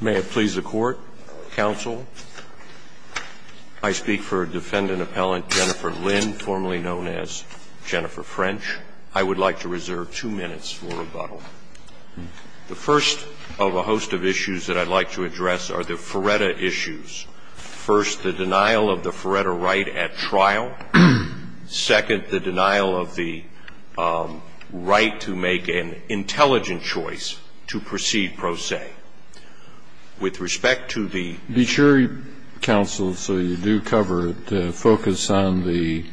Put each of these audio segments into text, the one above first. May it please the court, counsel. I speak for defendant appellant Jennifer Lynn, formerly known as Jennifer French. I would like to reserve two minutes for rebuttal. The first of a host of issues that I'd like to address are the FREDA issues. First, the denial of the FREDA right at trial. Second, the denial of the right to make an intelligent choice to proceed pro se. With respect to the... Be sure, counsel, so you do cover it, to focus on the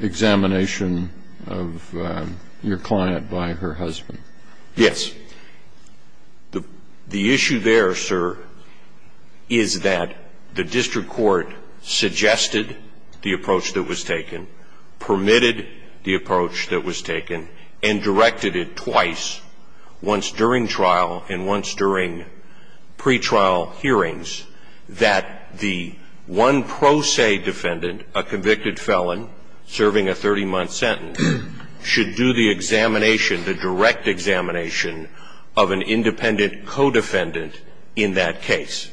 examination of your client by her husband. Yes. The issue there, sir, is that the district court suggested the approach that was taken, permitted the approach that was taken, and directed it twice, once during trial and once during pretrial hearings, that the one pro se defendant, a convicted felon serving a 30-month sentence, should do the examination, the direct examination of an independent co-defendant in that case.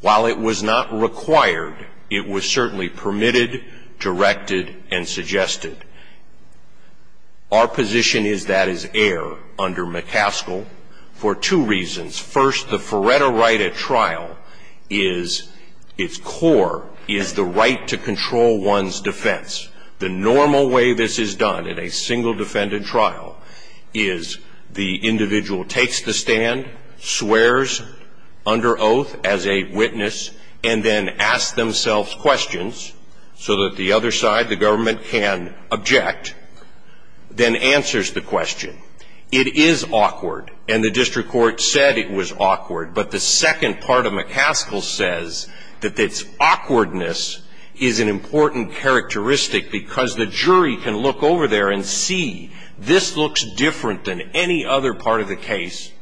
While it was not required, it was certainly permitted, directed, and suggested. Our position is that is air under McCaskill for two reasons. First, the FREDA right at trial is, its core, is the right to control one's defense. The normal way this is done in a single defendant trial is the individual takes the stand, swears under oath as a witness, and then asks themselves questions so that the other side, the government, can object, then answers the question. It is awkward, and the district court said it was awkward, but the second part of McCaskill says that this awkwardness is an important characteristic because the jury can look over there and see, this looks different than any other part of the case.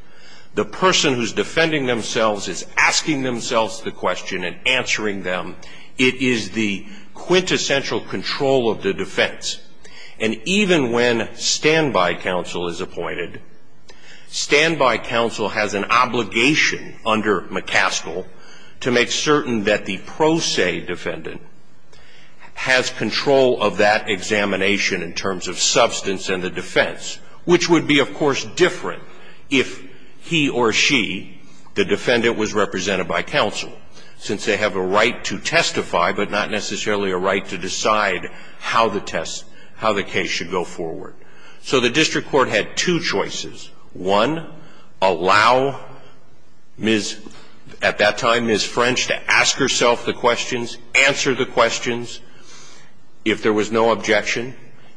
The person who's defending themselves is asking themselves the question and answering them. It is the quintessential control of the defense. And even when standby counsel is appointed, standby counsel has an obligation under McCaskill to make certain that the pro se defendant has control of that examination in terms of substance and the defense, which would be, of course, different if he or she, the defendant, was represented by counsel, since they have a right to testify but not necessarily a right to decide how the test, how the case should go forward. So the district court had two choices. One, allow Ms. at that time, Ms. French, to ask herself the questions, answer the questions, if there was no objection,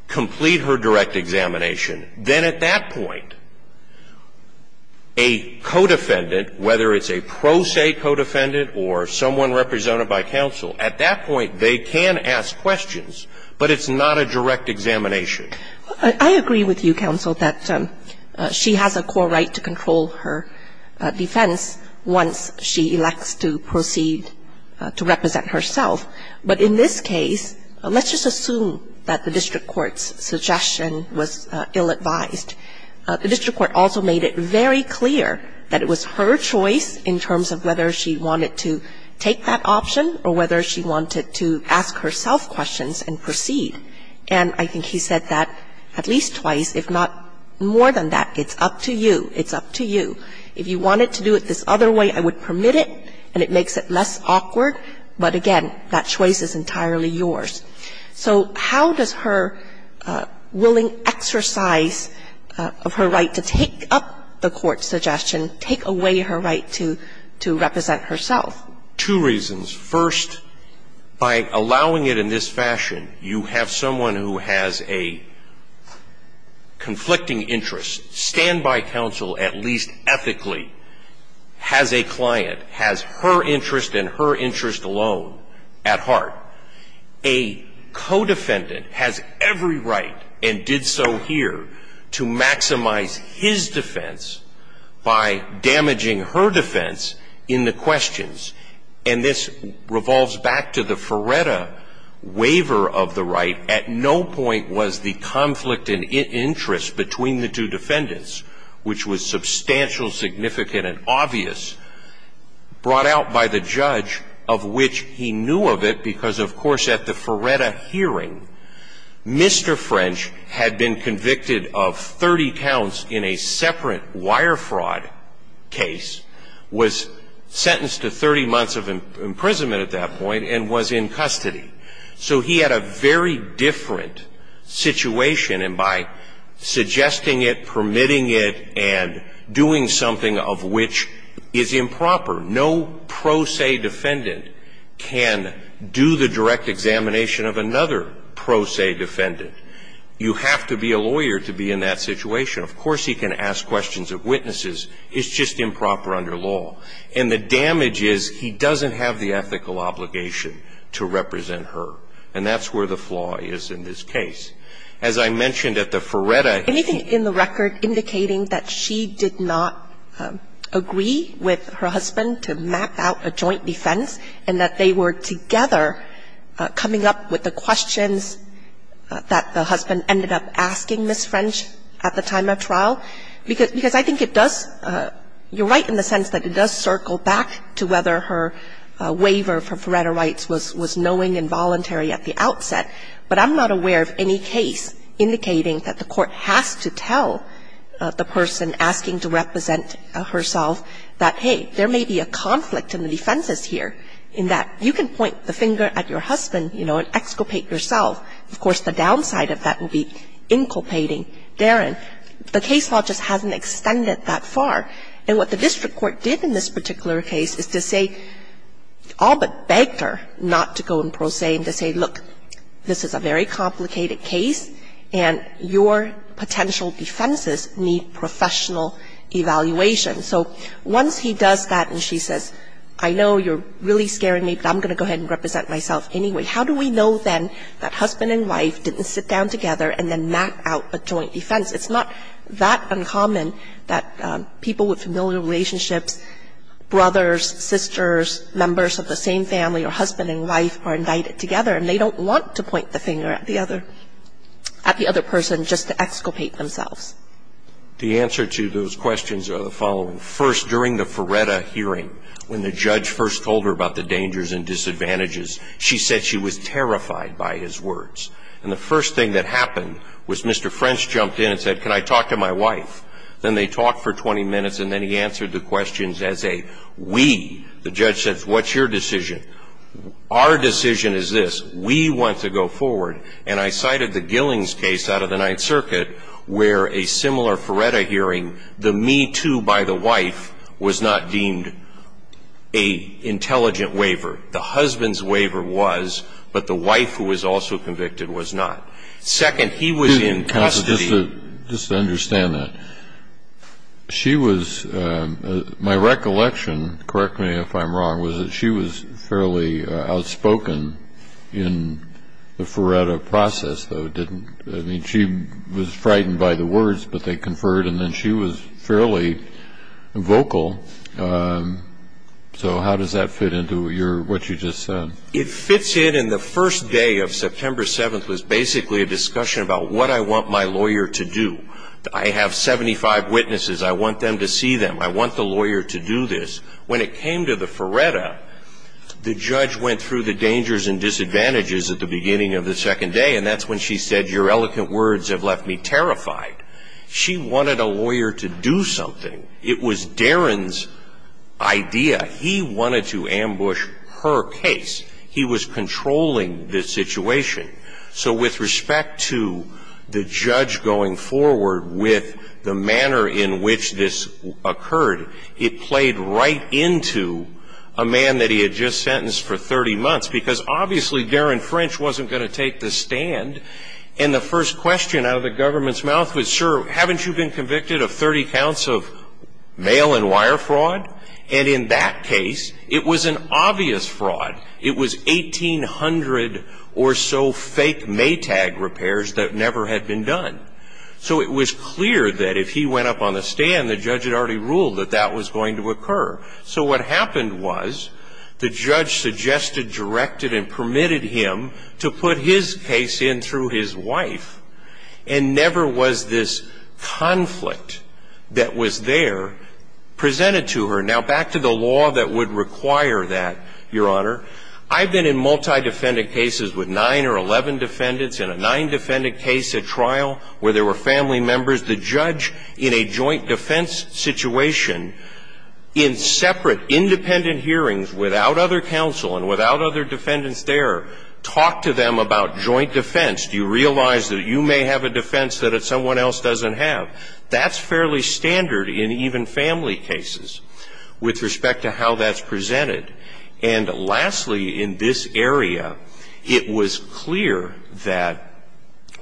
complete her direct examination. Then at that point, a co-defendant, whether it's a pro se co-defendant or someone represented by counsel, at that point they can ask questions, but it's not a direct examination. I agree with you, counsel, that she has a core right to control her defense once she elects to proceed to represent herself. But in this case, let's just assume that the district court's suggestion was ill-advised. The district court also made it very clear that it was her choice in terms of whether she wanted to take that option or whether she wanted to ask herself questions and proceed. And I think he said that at least twice, if not more than that, it's up to you. It's up to you. If you wanted to do it this other way, I would permit it, and it makes it less awkward. But again, that choice is entirely yours. So how does her willing exercise of her right to take up the court's suggestion, take away her right to represent herself? Two reasons. First, by allowing it in this fashion, you have someone who has a conflicting interest, stand by counsel at least ethically, has a client, has her interest and her interest alone at heart. A co-defendant has every right and did so here to maximize his defense by damaging her defense in the questions. And this revolves back to the Feretta waiver of the right. At no point was the conflict in interest between the two defendants, which was substantial, significant and obvious, brought out by the judge of which he knew of it because, of course, at the Feretta hearing, Mr. French had been convicted of 30 counts in a separate wire fraud case, was sentenced to 30 months of imprisonment at that point, and was in custody. So he had a very different situation, and by suggesting it, permitting it, and doing something of which is improper, no pro se defendant can do the direct examination of another pro se defendant. You have to be a lawyer to be in that situation. Of course he can ask questions of witnesses. It's just improper under law. And the damage is he doesn't have the ethical obligation to represent her. And that's where the flaw is in this case. As I mentioned at the Feretta hearing here. And I think it's important to note that the judge did not seek with her husband to map out a joint defense, and that they were together coming up with the questions that the husband ended up asking Ms. French at the time of trial. Because I think it does you're right in the sense that it does circle back to whether her waiver for Feretta rights was knowing involuntary at the outset, but I'm not aware of any case indicating that the court has to tell the person asking to represent herself that, hey, there may be a conflict in the defenses here, in that you can point the finger at your husband, you know, and exculpate yourself. Of course, the downside of that would be inculpating Darren. The case law just hasn't extended that far. And what the district court did in this particular case is to say all but begged her not to go in pro se and to say, look, this is a very complicated case, and your potential defenses need professional evaluation. So once he does that and she says, I know you're really scaring me, but I'm going to go ahead and represent myself anyway, how do we know then that husband and wife didn't sit down together and then map out a joint defense? It's not that uncommon that people with familiar relationships, brothers, sisters, members of the same family or husband and wife are indicted together, and they don't want to point the finger at the other person just to exculpate themselves. The answer to those questions are the following. First, during the Feretta hearing, when the judge first told her about the dangers and disadvantages, she said she was terrified by his words. And the first thing that happened was Mr. French jumped in and said, can I talk to my wife? Then they talked for 20 minutes, and then he answered the questions as a we. The judge says, what's your decision? Our decision is this. We want to go forward. And I cited the Gillings case out of the Ninth Circuit where a similar Feretta hearing, the me too by the wife was not deemed a intelligent waiver. The husband's waiver was, but the wife who was also convicted was not. Second, he was in custody. Just to understand that, she was my recollection, correct me if I'm wrong, was that she was fairly outspoken in the Feretta process, though, didn't she? I mean, she was frightened by the words, but they conferred, and then she was fairly vocal. So how does that fit into what you just said? It fits in, and the first day of September 7th was basically a discussion about what I want my lawyer to do. I have 75 witnesses. I want them to see them. I want the lawyer to do this. When it came to the Feretta, the judge went through the dangers and disadvantages at the beginning of the second day, and that's when she said, your eloquent words have left me terrified. She wanted a lawyer to do something. It was Darren's idea. He wanted to ambush her case. He was controlling the situation. So with respect to the judge going forward with the manner in which this occurred, it played right into a man that he had just sentenced for 30 months, because obviously Darren French wasn't going to take the stand. And the first question out of the government's mouth was, sir, haven't you been convicted of 30 counts of mail and wire fraud? And in that case, it was an obvious fraud. It was 1,800 or so fake Maytag repairs that never had been done. So it was clear that if he went up on the stand, the judge had already ruled that that was going to occur. So what happened was the judge suggested, directed, and permitted him to put his case in through his wife, and never was this conflict that was there presented to her. Now, back to the law that would require that, Your Honor. I've been in multi-defendant cases with nine or 11 defendants, in a nine-defendant case at trial where there were family members. The judge, in a joint defense situation, in separate independent hearings without other counsel and without other defendants there, talked to them about joint defense. Do you realize that you may have a defense that someone else doesn't have? That's fairly standard in even family cases with respect to how that's presented. And lastly, in this area, it was clear that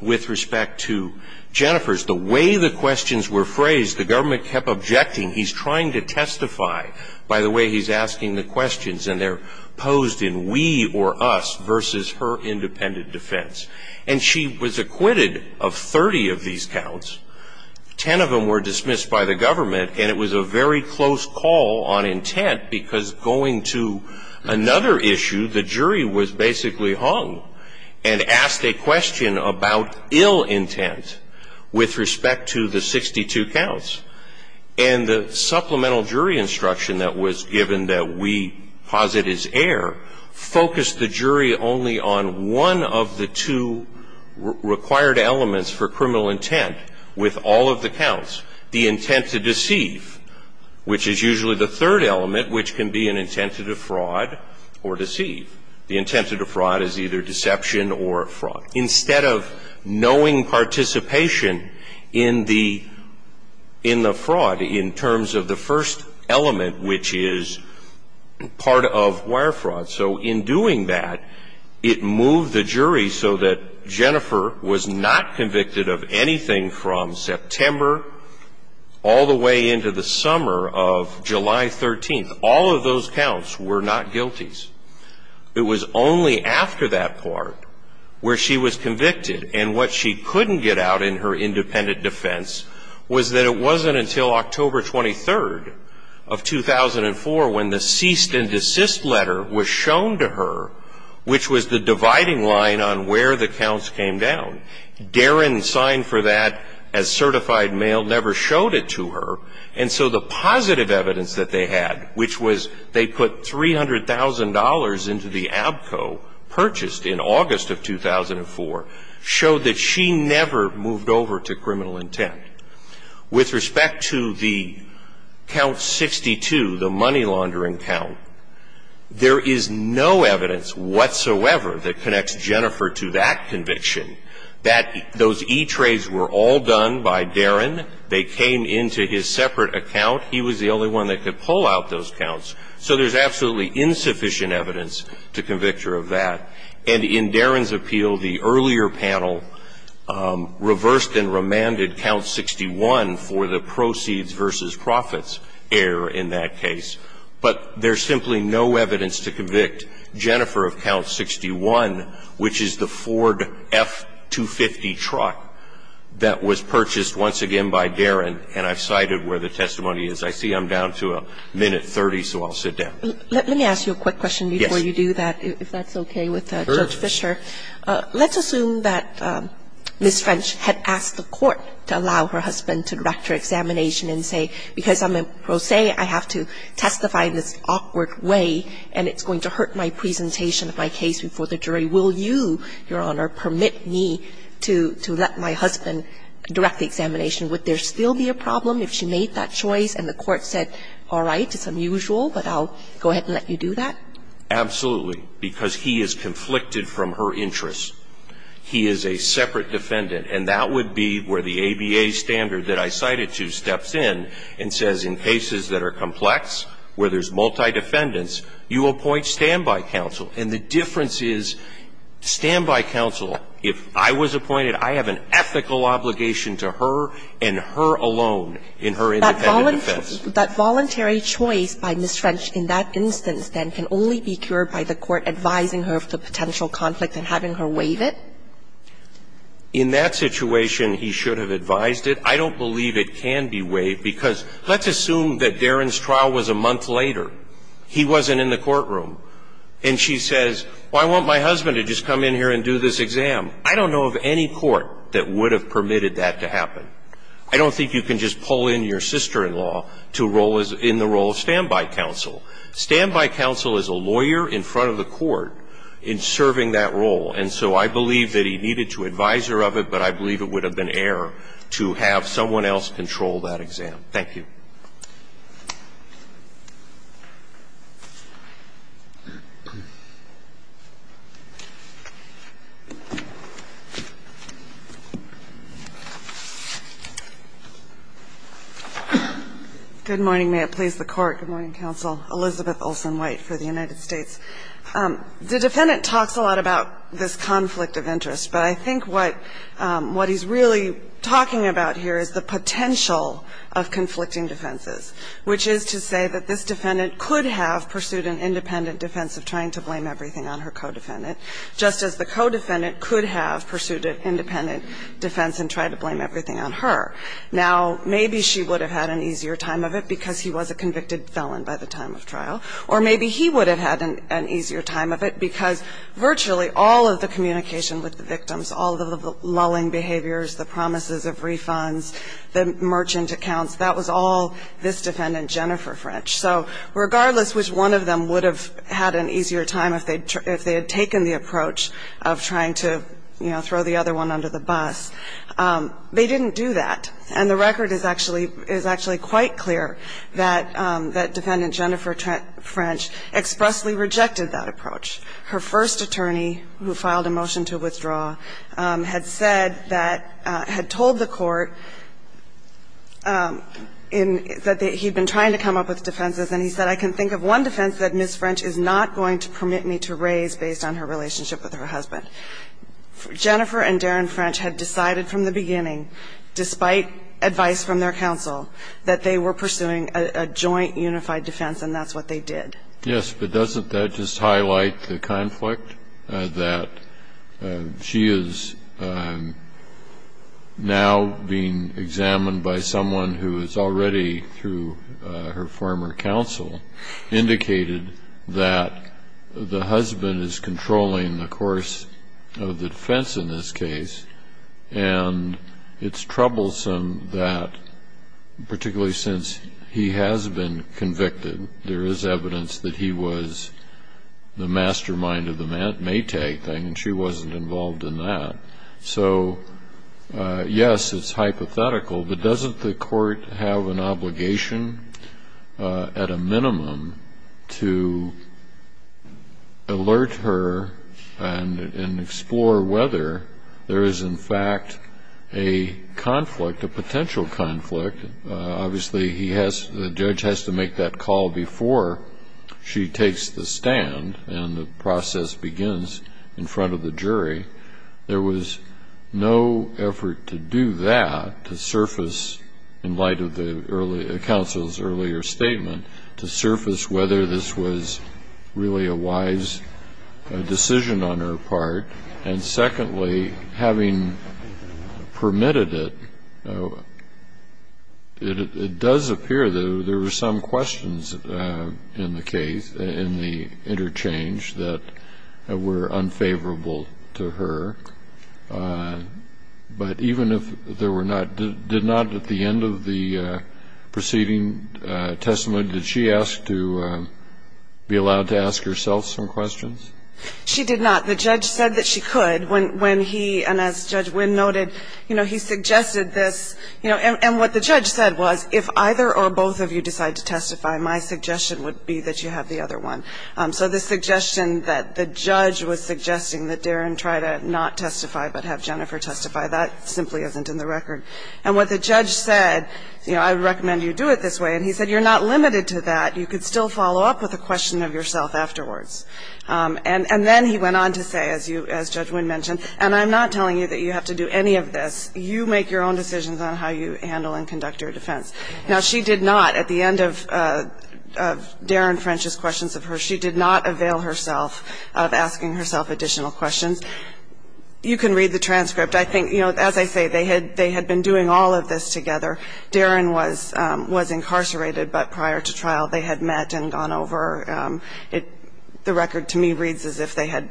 with respect to Jennifer's, the way the questions were phrased, the government kept objecting. He's trying to testify by the way he's asking the questions, and they're posed in we or us versus her independent defense. And she was acquitted of 30 of these counts. Ten of them were dismissed by the government, and it was a very close call on intent, because going to another issue, the jury was basically hung and asked a question about ill intent with respect to the 62 counts. And the supplemental jury instruction that was given that we posit as error focused the jury only on one of the two required elements for criminal intent with all of the counts, the intent to deceive, which is usually the third element, which can be an intent to defraud or deceive. The intent to defraud is either deception or fraud. Instead of knowing participation in the fraud in terms of the first element, which is part of wire fraud. So in doing that, it moved the jury so that Jennifer was not convicted of anything from September all the way into the summer of July 13th. All of those counts were not guilties. It was only after that part where she was convicted. And what she couldn't get out in her independent defense was that it wasn't until October 23rd of 2004 when the cease and desist letter was shown to her, which was the dividing line on where the counts came down. Darren signed for that as certified mail, never showed it to her. And so the positive evidence that they had, which was they put $300,000 into the ABCO purchased in August of 2004, showed that she never moved over to criminal intent. With respect to the count 62, the money laundering count, there is no evidence whatsoever that connects Jennifer to that conviction, that those E-trades were all done by Darren. They came into his separate account. He was the only one that could pull out those counts. So there's absolutely insufficient evidence to convict her of that. And in Darren's appeal, the earlier panel reversed and remanded count 61 for the proceeds versus profits error in that case. But there's simply no evidence to convict Jennifer of count 61, which is the Ford F-250 truck that was purchased once again by Darren. And I've cited where the testimony is. I see I'm down to a minute 30, so I'll sit down. Let me ask you a quick question before you do that, if that's okay with Judge Fisher. Sure. Let's assume that Ms. French had asked the Court to allow her husband to direct her examination and say, because I'm a pro se, I have to testify in this awkward way and it's going to hurt my presentation of my case before the jury, will you, Your Honor, permit me to let my husband direct the examination? Would there still be a problem if she made that choice and the Court said, all right, it's unusual, but I'll go ahead and let you do that? Absolutely. Because he is conflicted from her interests. He is a separate defendant. And that would be where the ABA standard that I cited to steps in and says in cases that are complex, where there's multi-defendants, you appoint standby counsel. And the difference is standby counsel, if I was appointed, I have an ethical obligation to her and her alone in her independent defense. That voluntary choice by Ms. French in that instance, then, can only be cured by the Court advising her of the potential conflict and having her waive it? In that situation, he should have advised it. I don't believe it can be waived. Because let's assume that Darren's trial was a month later. He wasn't in the courtroom. And she says, well, I want my husband to just come in here and do this exam. I don't know of any court that would have permitted that to happen. I don't think you can just pull in your sister-in-law in the role of standby counsel. Standby counsel is a lawyer in front of the Court in serving that role. And so I believe that he needed to advise her of it, but I believe it would have been error to have someone else control that exam. Thank you. Good morning. May it please the Court. Good morning, counsel. Elizabeth Olson White for the United States. The defendant talks a lot about this conflict of interest, but I think what he's really talking about here is the potential of conflicting defenses, which is to say that this defendant could have pursued an independent defense of trying to blame everything on her co-defendant, just as the co-defendant could have pursued an independent defense and tried to blame everything on her. Now, maybe she would have had an easier time of it because he was a convicted felon by the time of trial, or maybe he would have had an easier time of it because virtually all of the communication with the victims, all of the lulling behaviors, the promises of refunds, the merchant accounts, that was all this defendant, Jennifer French. So regardless which one of them would have had an easier time if they had taken the approach of trying to, you know, throw the other one under the bus, they didn't do that. And the record is actually quite clear that Defendant Jennifer French expressly rejected that approach. Her first attorney, who filed a motion to withdraw, had said that, had told the court that he had been trying to come up with defenses, and he said, I can think of one defense that Ms. French is not going to permit me to raise based on her relationship with her husband. Jennifer and Darren French had decided from the beginning, despite advice from their counsel, that they were pursuing a joint unified defense, and that's what they did. Yes, but doesn't that just highlight the conflict, that she is now being examined by someone who has already, through her former counsel, indicated that the husband is controlling the course of the defense in this case, and it's troublesome that, particularly since he has been convicted, there is evidence that he was the mastermind of the Maytag thing, and she wasn't involved in that. So, yes, it's hypothetical, but doesn't the court have an obligation, at a minimum, to alert her and explore whether there is, in fact, a conflict, a potential conflict? Obviously, the judge has to make that call before she takes the stand, and the process begins in front of the jury. There was no effort to do that, to surface, in light of the counsel's earlier statement, to surface whether this was really a wise decision on her part. And secondly, having permitted it, it does appear that there were some questions in the case, in the interchange, that were unfavorable to her, but even if there were not, did not at the end of the preceding testimony, did she ask to be allowed to ask herself some questions? She did not. The judge said that she could, when he, and as Judge Wynn noted, you know, he suggested this, you know, and what the judge said was, if either or both of you decide to testify, my suggestion would be that you have the other one. So the suggestion that the judge was suggesting that Darren try to not testify, but have Jennifer testify, that simply isn't in the record. And what the judge said, you know, I recommend you do it this way, and he said you're not limited to that. You could still follow up with a question of yourself afterwards. And then he went on to say, as you, as Judge Wynn mentioned, and I'm not telling you that you have to do any of this. You make your own decisions on how you handle and conduct your defense. Now, she did not, at the end of Darren French's questions of her, she did not avail herself of asking herself additional questions. You can read the transcript. I think, you know, as I say, they had been doing all of this together. Darren was incarcerated, but prior to trial they had met and gone over. The record, to me, reads as if they had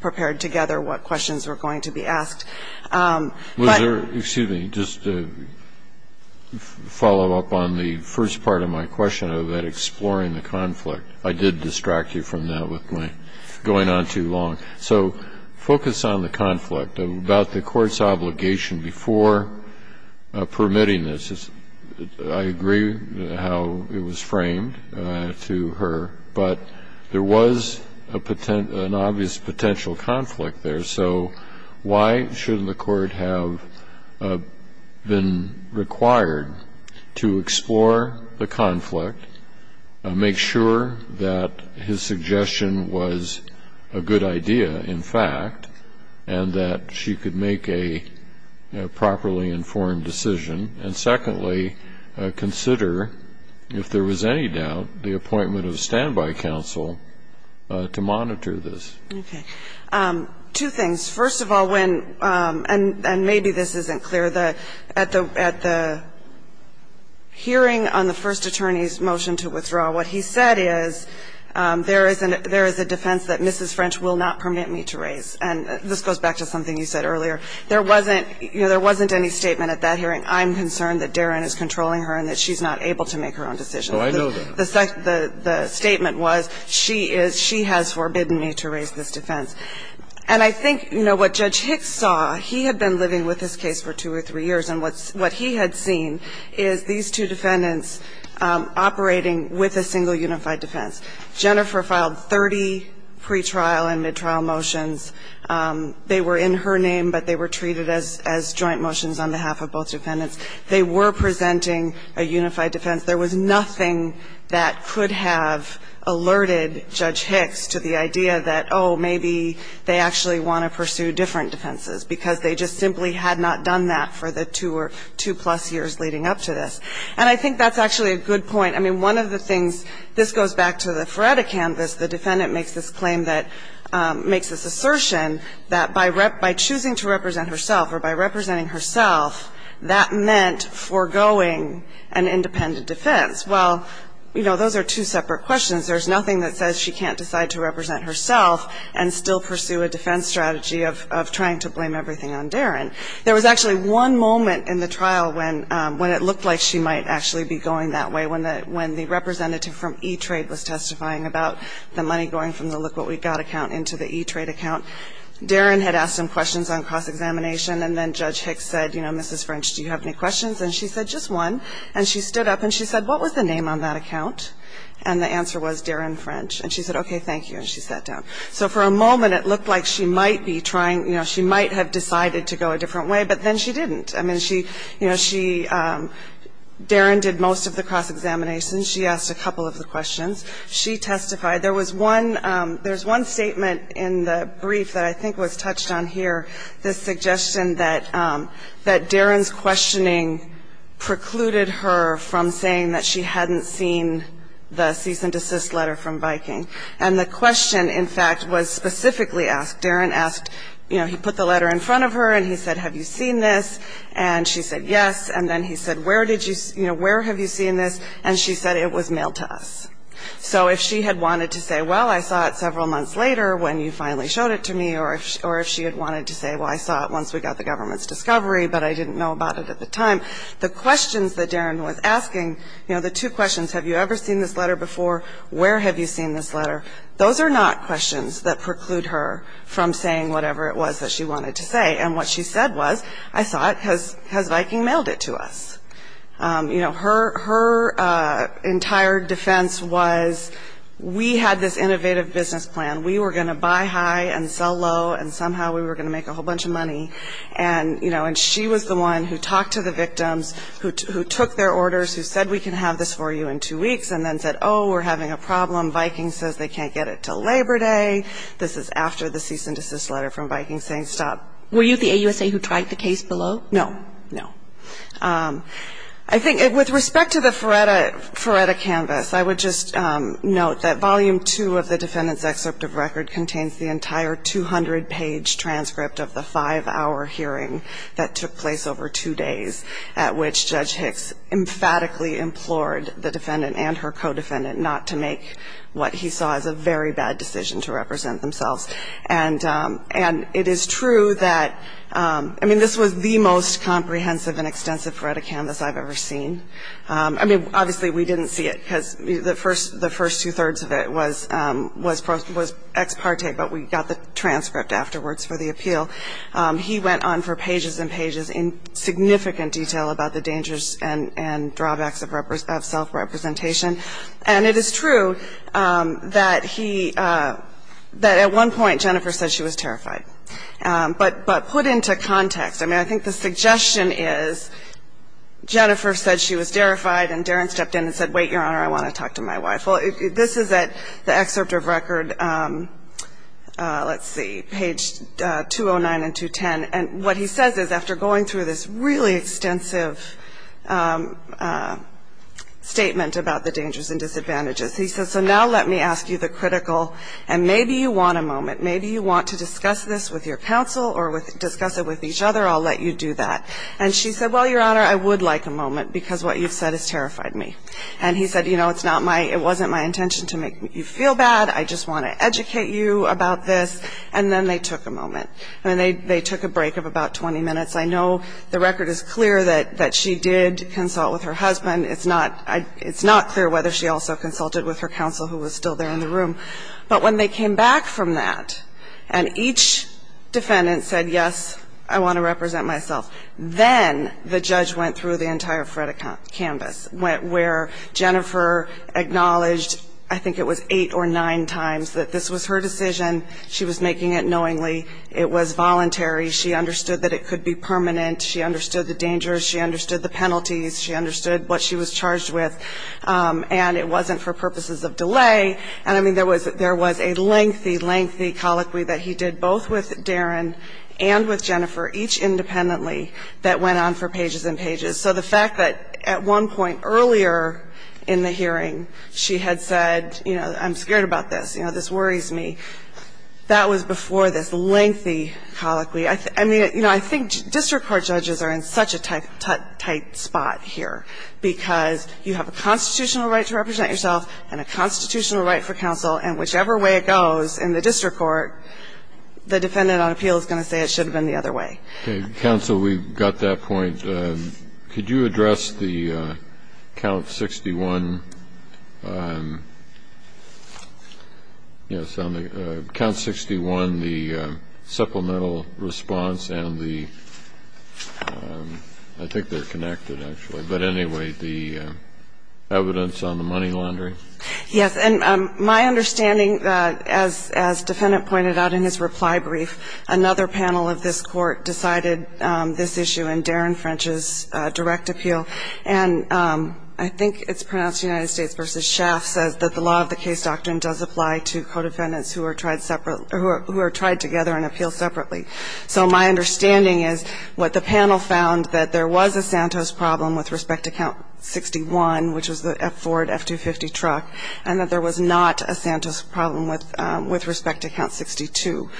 prepared together what questions were going to be asked. But. Kennedy. Was there, excuse me, just a follow-up on the first part of my question of exploring the conflict. I did distract you from that with my going on too long. So focus on the conflict about the court's obligation before permitting this. I agree how it was framed to her. But there was an obvious potential conflict there. So why shouldn't the court have been required to explore the conflict, make sure that his suggestion was a good idea, in fact, and that she could make a properly informed decision, and secondly, consider, if there was any doubt, the appointment of a standby counsel to monitor this. Okay. Two things. First of all, when, and maybe this isn't clear, at the hearing on the first attorney's motion to withdraw, what he said is, there is a defense that Mrs. French will not permit me to raise. And this goes back to something you said earlier. There wasn't any statement at that hearing, I'm concerned that Darren is controlling her and that she's not able to make her own decisions. Oh, I know that. The statement was, she has forbidden me to raise this defense. And I think, you know, what Judge Hicks saw, he had been living with this case for two or three years, and what he had seen is these two defendants operating with a single unified defense. Jennifer filed 30 pretrial and midtrial motions. They were in her name, but they were treated as joint motions on behalf of both defendants. They were presenting a unified defense. There was nothing that could have alerted Judge Hicks to the idea that, oh, maybe they actually want to pursue different defenses, because they just simply had not done that for the two or two-plus years leading up to this. And I think that's actually a good point. I mean, one of the things, this goes back to the Feretta canvas. The defendant makes this claim that, makes this assertion that by choosing to represent herself or by representing herself, that meant foregoing an independent defense. Well, you know, those are two separate questions. There's nothing that says she can't decide to represent herself and still pursue a defense strategy of trying to blame everything on Darren. There was actually one moment in the trial when it looked like she might actually be going that way, when the representative from E-Trade was testifying about the money going from the Look What We Got account into the E-Trade account. Darren had asked him questions on cost examination, and then Judge Hicks said, you know, Mrs. French, do you have any questions? And she said, just one. And she stood up and she said, what was the name on that account? And the answer was Darren French. And she said, okay, thank you. And she sat down. So for a moment it looked like she might be trying, you know, she might have decided to go a different way, but then she didn't. I mean, she, you know, she, Darren did most of the cost examination. She asked a couple of the questions. She testified. There was one, there's one statement in the brief that I think was touched on here, this suggestion that Darren's questioning precluded her from saying that she hadn't seen the cease and desist letter from Viking. And the question, in fact, was specifically asked. Darren asked, you know, he put the letter in front of her and he said, have you seen this? And she said, yes. And then he said, where did you, you know, where have you seen this? And she said, it was mailed to us. So if she had wanted to say, well, I saw it several months later when you finally showed it to me, or if she had wanted to say, well, I saw it once we got the government's discovery, but I didn't know about it at the time. The questions that Darren was asking, you know, the two questions, have you ever seen this letter before? Where have you seen this letter? Those are not questions that preclude her from saying whatever it was that she wanted to say. And what she said was, I saw it. Has Viking mailed it to us? You know, her entire defense was, we had this innovative business plan. We were going to buy high and sell low, and somehow we were going to make a whole bunch of money. And, you know, and she was the one who talked to the victims, who took their orders, who said we can have this for you in two weeks, and then said, oh, we're having a problem. Viking says they can't get it until Labor Day. This is after the cease and desist letter from Viking saying stop. Were you the AUSA who tried the case below? No. No. I think with respect to the Feretta canvas, I would just note that volume two of the defendant's excerpt of record contains the entire 200-page transcript of the five-hour hearing that took place over two days at which Judge Hicks emphatically implored the defendant and her co-defendant not to make what he saw as a very bad decision to represent themselves. And it is true that, I mean, this was the most comprehensive and extensive Feretta canvas I've ever seen. I mean, obviously we didn't see it because the first two-thirds of it was ex parte, but we got the transcript afterwards for the appeal. He went on for pages and pages in significant detail about the dangers and drawbacks of self-representation. And it is true that he, that at one point Jennifer said she was terrified. But put into context, I mean, I think the suggestion is Jennifer said she was terrified and Darren stepped in and said, wait, Your Honor, I want to talk to my wife. Well, this is at the excerpt of record, let's see, page 209 and 210. And what he says is after going through this really extensive statement about the dangers and disadvantages, he says, so now let me ask you the critical, and maybe you want a moment, maybe you want to discuss this with your counsel or discuss it with each other, I'll let you do that. And she said, well, Your Honor, I would like a moment, because what you've said has terrified me. And he said, you know, it's not my, it wasn't my intention to make you feel bad, I just want to educate you about this, and then they took a moment. And then they took a break of about 20 minutes. I know the record is clear that she did consult with her husband. It's not clear whether she also consulted with her counsel who was still there in the room. But when they came back from that and each defendant said, yes, I want to represent myself, then the judge went through the entire FREDA canvas where Jennifer acknowledged, I think it was eight or nine times, that this was her decision, she was making it knowingly, it was voluntary, she understood that it could be permanent, she understood the dangers, she understood the penalties, she understood what she was charged with, and it wasn't for purposes of delay. And, I mean, there was a lengthy, lengthy colloquy that he did both with Darren and with Jennifer, each independently, that went on for pages and pages. So the fact that at one point earlier in the hearing she had said, you know, I'm scared about this, you know, this worries me, that was before this lengthy colloquy. I mean, you know, I think district court judges are in such a tight spot here, because you have a constitutional right to represent yourself and a constitutional right for counsel, and whichever way it goes in the district court, the defendant on appeal is going to say it should have been the other way. Okay. Counsel, we've got that point. Could you address the count 61, yes, on the count 61, the supplemental response and the, I think they're connected, actually, but anyway, the evidence on the money laundering? Yes. And my understanding, as defendant pointed out in his reply brief, another panel of this court decided this issue in Darren French's direct appeal, and I think it's pronounced United States v. Schaaf says that the law of the case doctrine does apply to co-defendants who are tried separate, who are tried together and appealed separately. So my understanding is what the panel found, that there was a Santos problem with respect to count 61, which was the Ford F-250 truck, and that there was not a Santos problem with respect to count 62.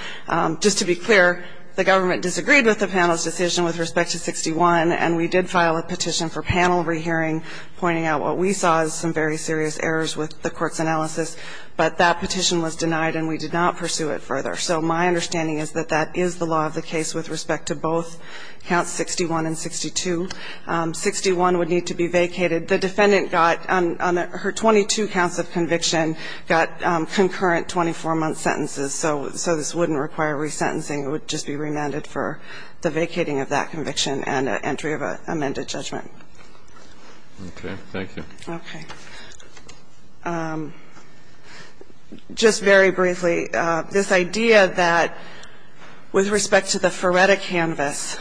Just to be clear, the government disagreed with the panel's decision with respect to 61, and we did file a petition for panel rehearing pointing out what we saw as some very serious errors with the court's analysis, but that petition was denied and we did not pursue it further. So my understanding is that that is the law of the case with respect to both counts 61 and 62. 61 would need to be vacated. The defendant got, on her 22 counts of conviction, got concurrent 24-month sentences, so this wouldn't require resentencing. It would just be remanded for the vacating of that conviction and entry of an amended judgment. Okay. Thank you. Okay. Just very briefly, this idea that with respect to the Ferretta canvas,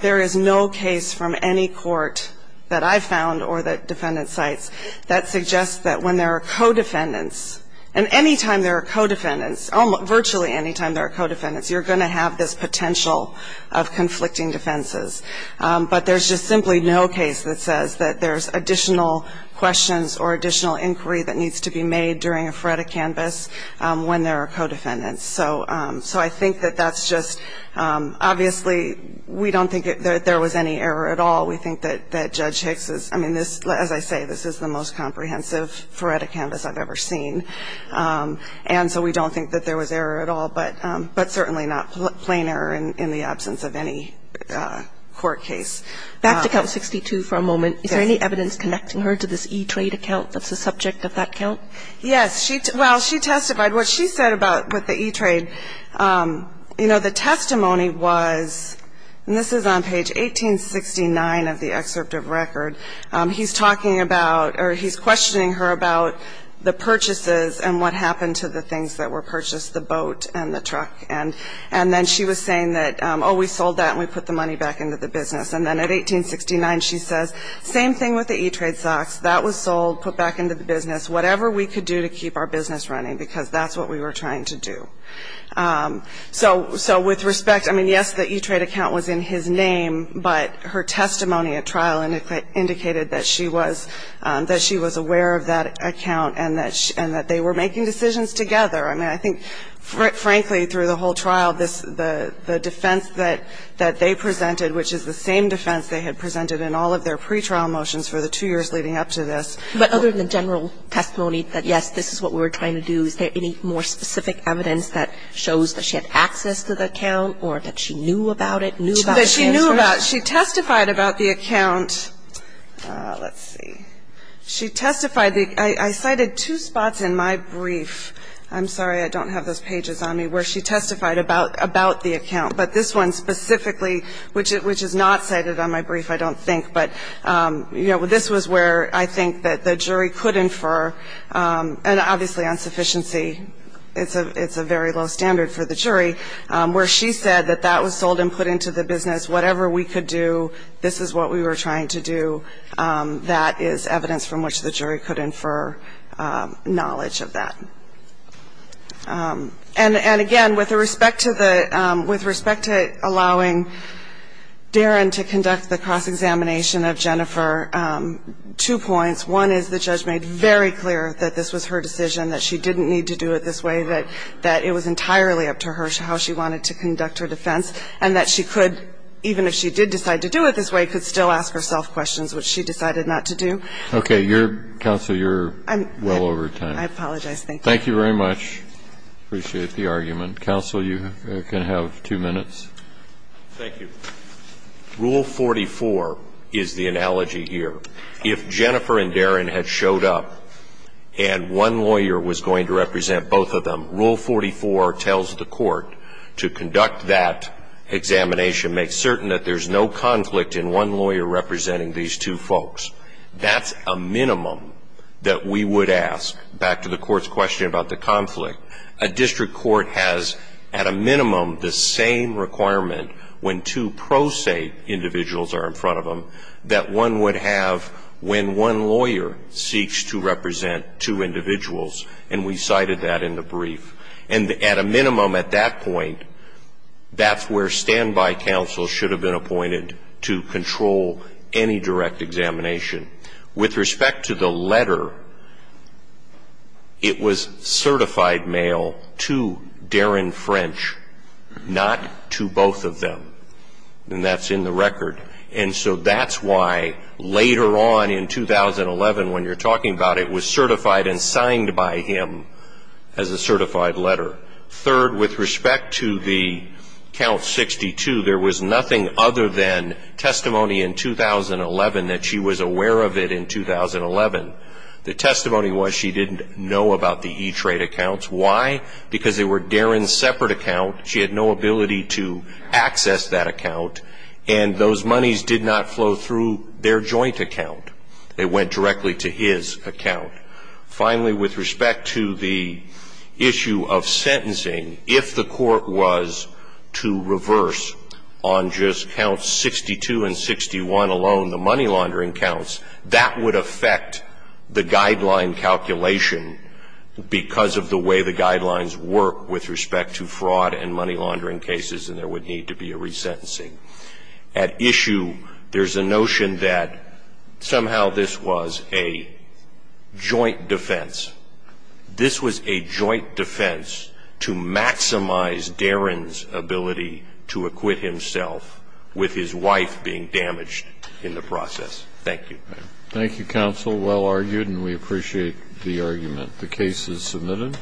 there is no case from any court that I've found or that defendants cite that suggests that when there are co-defendants, and any time there are co-defendants, virtually any time there are co-defendants, you're going to have this potential of conflicting defenses. But there's just simply no case that says that there's additional questions or additional inquiry that needs to be made during a Ferretta canvas when there are co-defendants. So I think that that's just obviously we don't think that there was any error at all. We think that Judge Hicks is, I mean, as I say, this is the most comprehensive Ferretta canvas I've ever seen, and so we don't think that there was error at all, but certainly not plain error in the absence of any court case. Back to Count 62 for a moment. Is there any evidence connecting her to this E-Trade account that's the subject of that count? Yes. Well, she testified. What she said about with the E-Trade, you know, the testimony was, and this is on 1869 of the excerpt of record. He's talking about or he's questioning her about the purchases and what happened to the things that were purchased, the boat and the truck. And then she was saying that, oh, we sold that and we put the money back into the business. And then at 1869 she says, same thing with the E-Trade stocks. That was sold, put back into the business, whatever we could do to keep our business running because that's what we were trying to do. So with respect, I mean, yes, the E-Trade account was in his name, but her testimony at trial indicated that she was aware of that account and that they were making decisions together. I mean, I think, frankly, through the whole trial, the defense that they presented, which is the same defense they had presented in all of their pretrial motions for the two years leading up to this. But other than general testimony that, yes, this is what we were trying to do, is there any more specific evidence that shows that she had access to the account or that she knew about it, knew about the transfers? That she knew about. She testified about the account. Let's see. She testified. I cited two spots in my brief. I'm sorry, I don't have those pages on me, where she testified about the account. But this one specifically, which is not cited on my brief, I don't think. But, you know, this was where I think that the jury could infer, and obviously on sufficiency, it's a very low standard for the jury, where she said that that was sold and put into the business. Whatever we could do, this is what we were trying to do. That is evidence from which the jury could infer knowledge of that. And, again, with respect to allowing Darren to conduct the cross-examination of Jennifer, two points. One is the judge made very clear that this was her decision, that she didn't need to do it this way, that it was entirely up to her how she wanted to conduct her defense, and that she could, even if she did decide to do it this way, could still ask herself questions, which she decided not to do. Okay. Counsel, you're well over time. I apologize. Thank you. Thank you very much. Appreciate the argument. Counsel, you can have two minutes. Thank you. Rule 44 is the analogy here. If Jennifer and Darren had showed up, and one lawyer was going to represent both of them, Rule 44 tells the court to conduct that examination, make certain that there's no conflict in one lawyer representing these two folks. That's a minimum that we would ask, back to the court's question about the conflict. A district court has, at a minimum, the same requirement when two pro se individuals are in front of them, that one would have when one lawyer seeks to represent two individuals, and we cited that in the brief. And at a minimum at that point, that's where standby counsel should have been appointed to control any direct examination. With respect to the letter, it was certified mail to Darren French, not to both of them, and that's in the record. And so that's why later on in 2011, when you're talking about it, it was certified and signed by him as a certified letter. Third, with respect to the Count 62, there was nothing other than testimony in 2011 that she was aware of it in 2011. The testimony was she didn't know about the E-Trade accounts. Why? Because they were Darren's separate account. She had no ability to access that account, and those monies did not flow through their joint account. They went directly to his account. Finally, with respect to the issue of sentencing, if the court was to reverse on just Counts 62 and 61 alone, the money laundering counts, that would affect the and there would need to be a resentencing. At issue, there's a notion that somehow this was a joint defense. This was a joint defense to maximize Darren's ability to acquit himself with his wife being damaged in the process. Thank you. Thank you, counsel. Well argued, and we appreciate the argument. The case is submitted.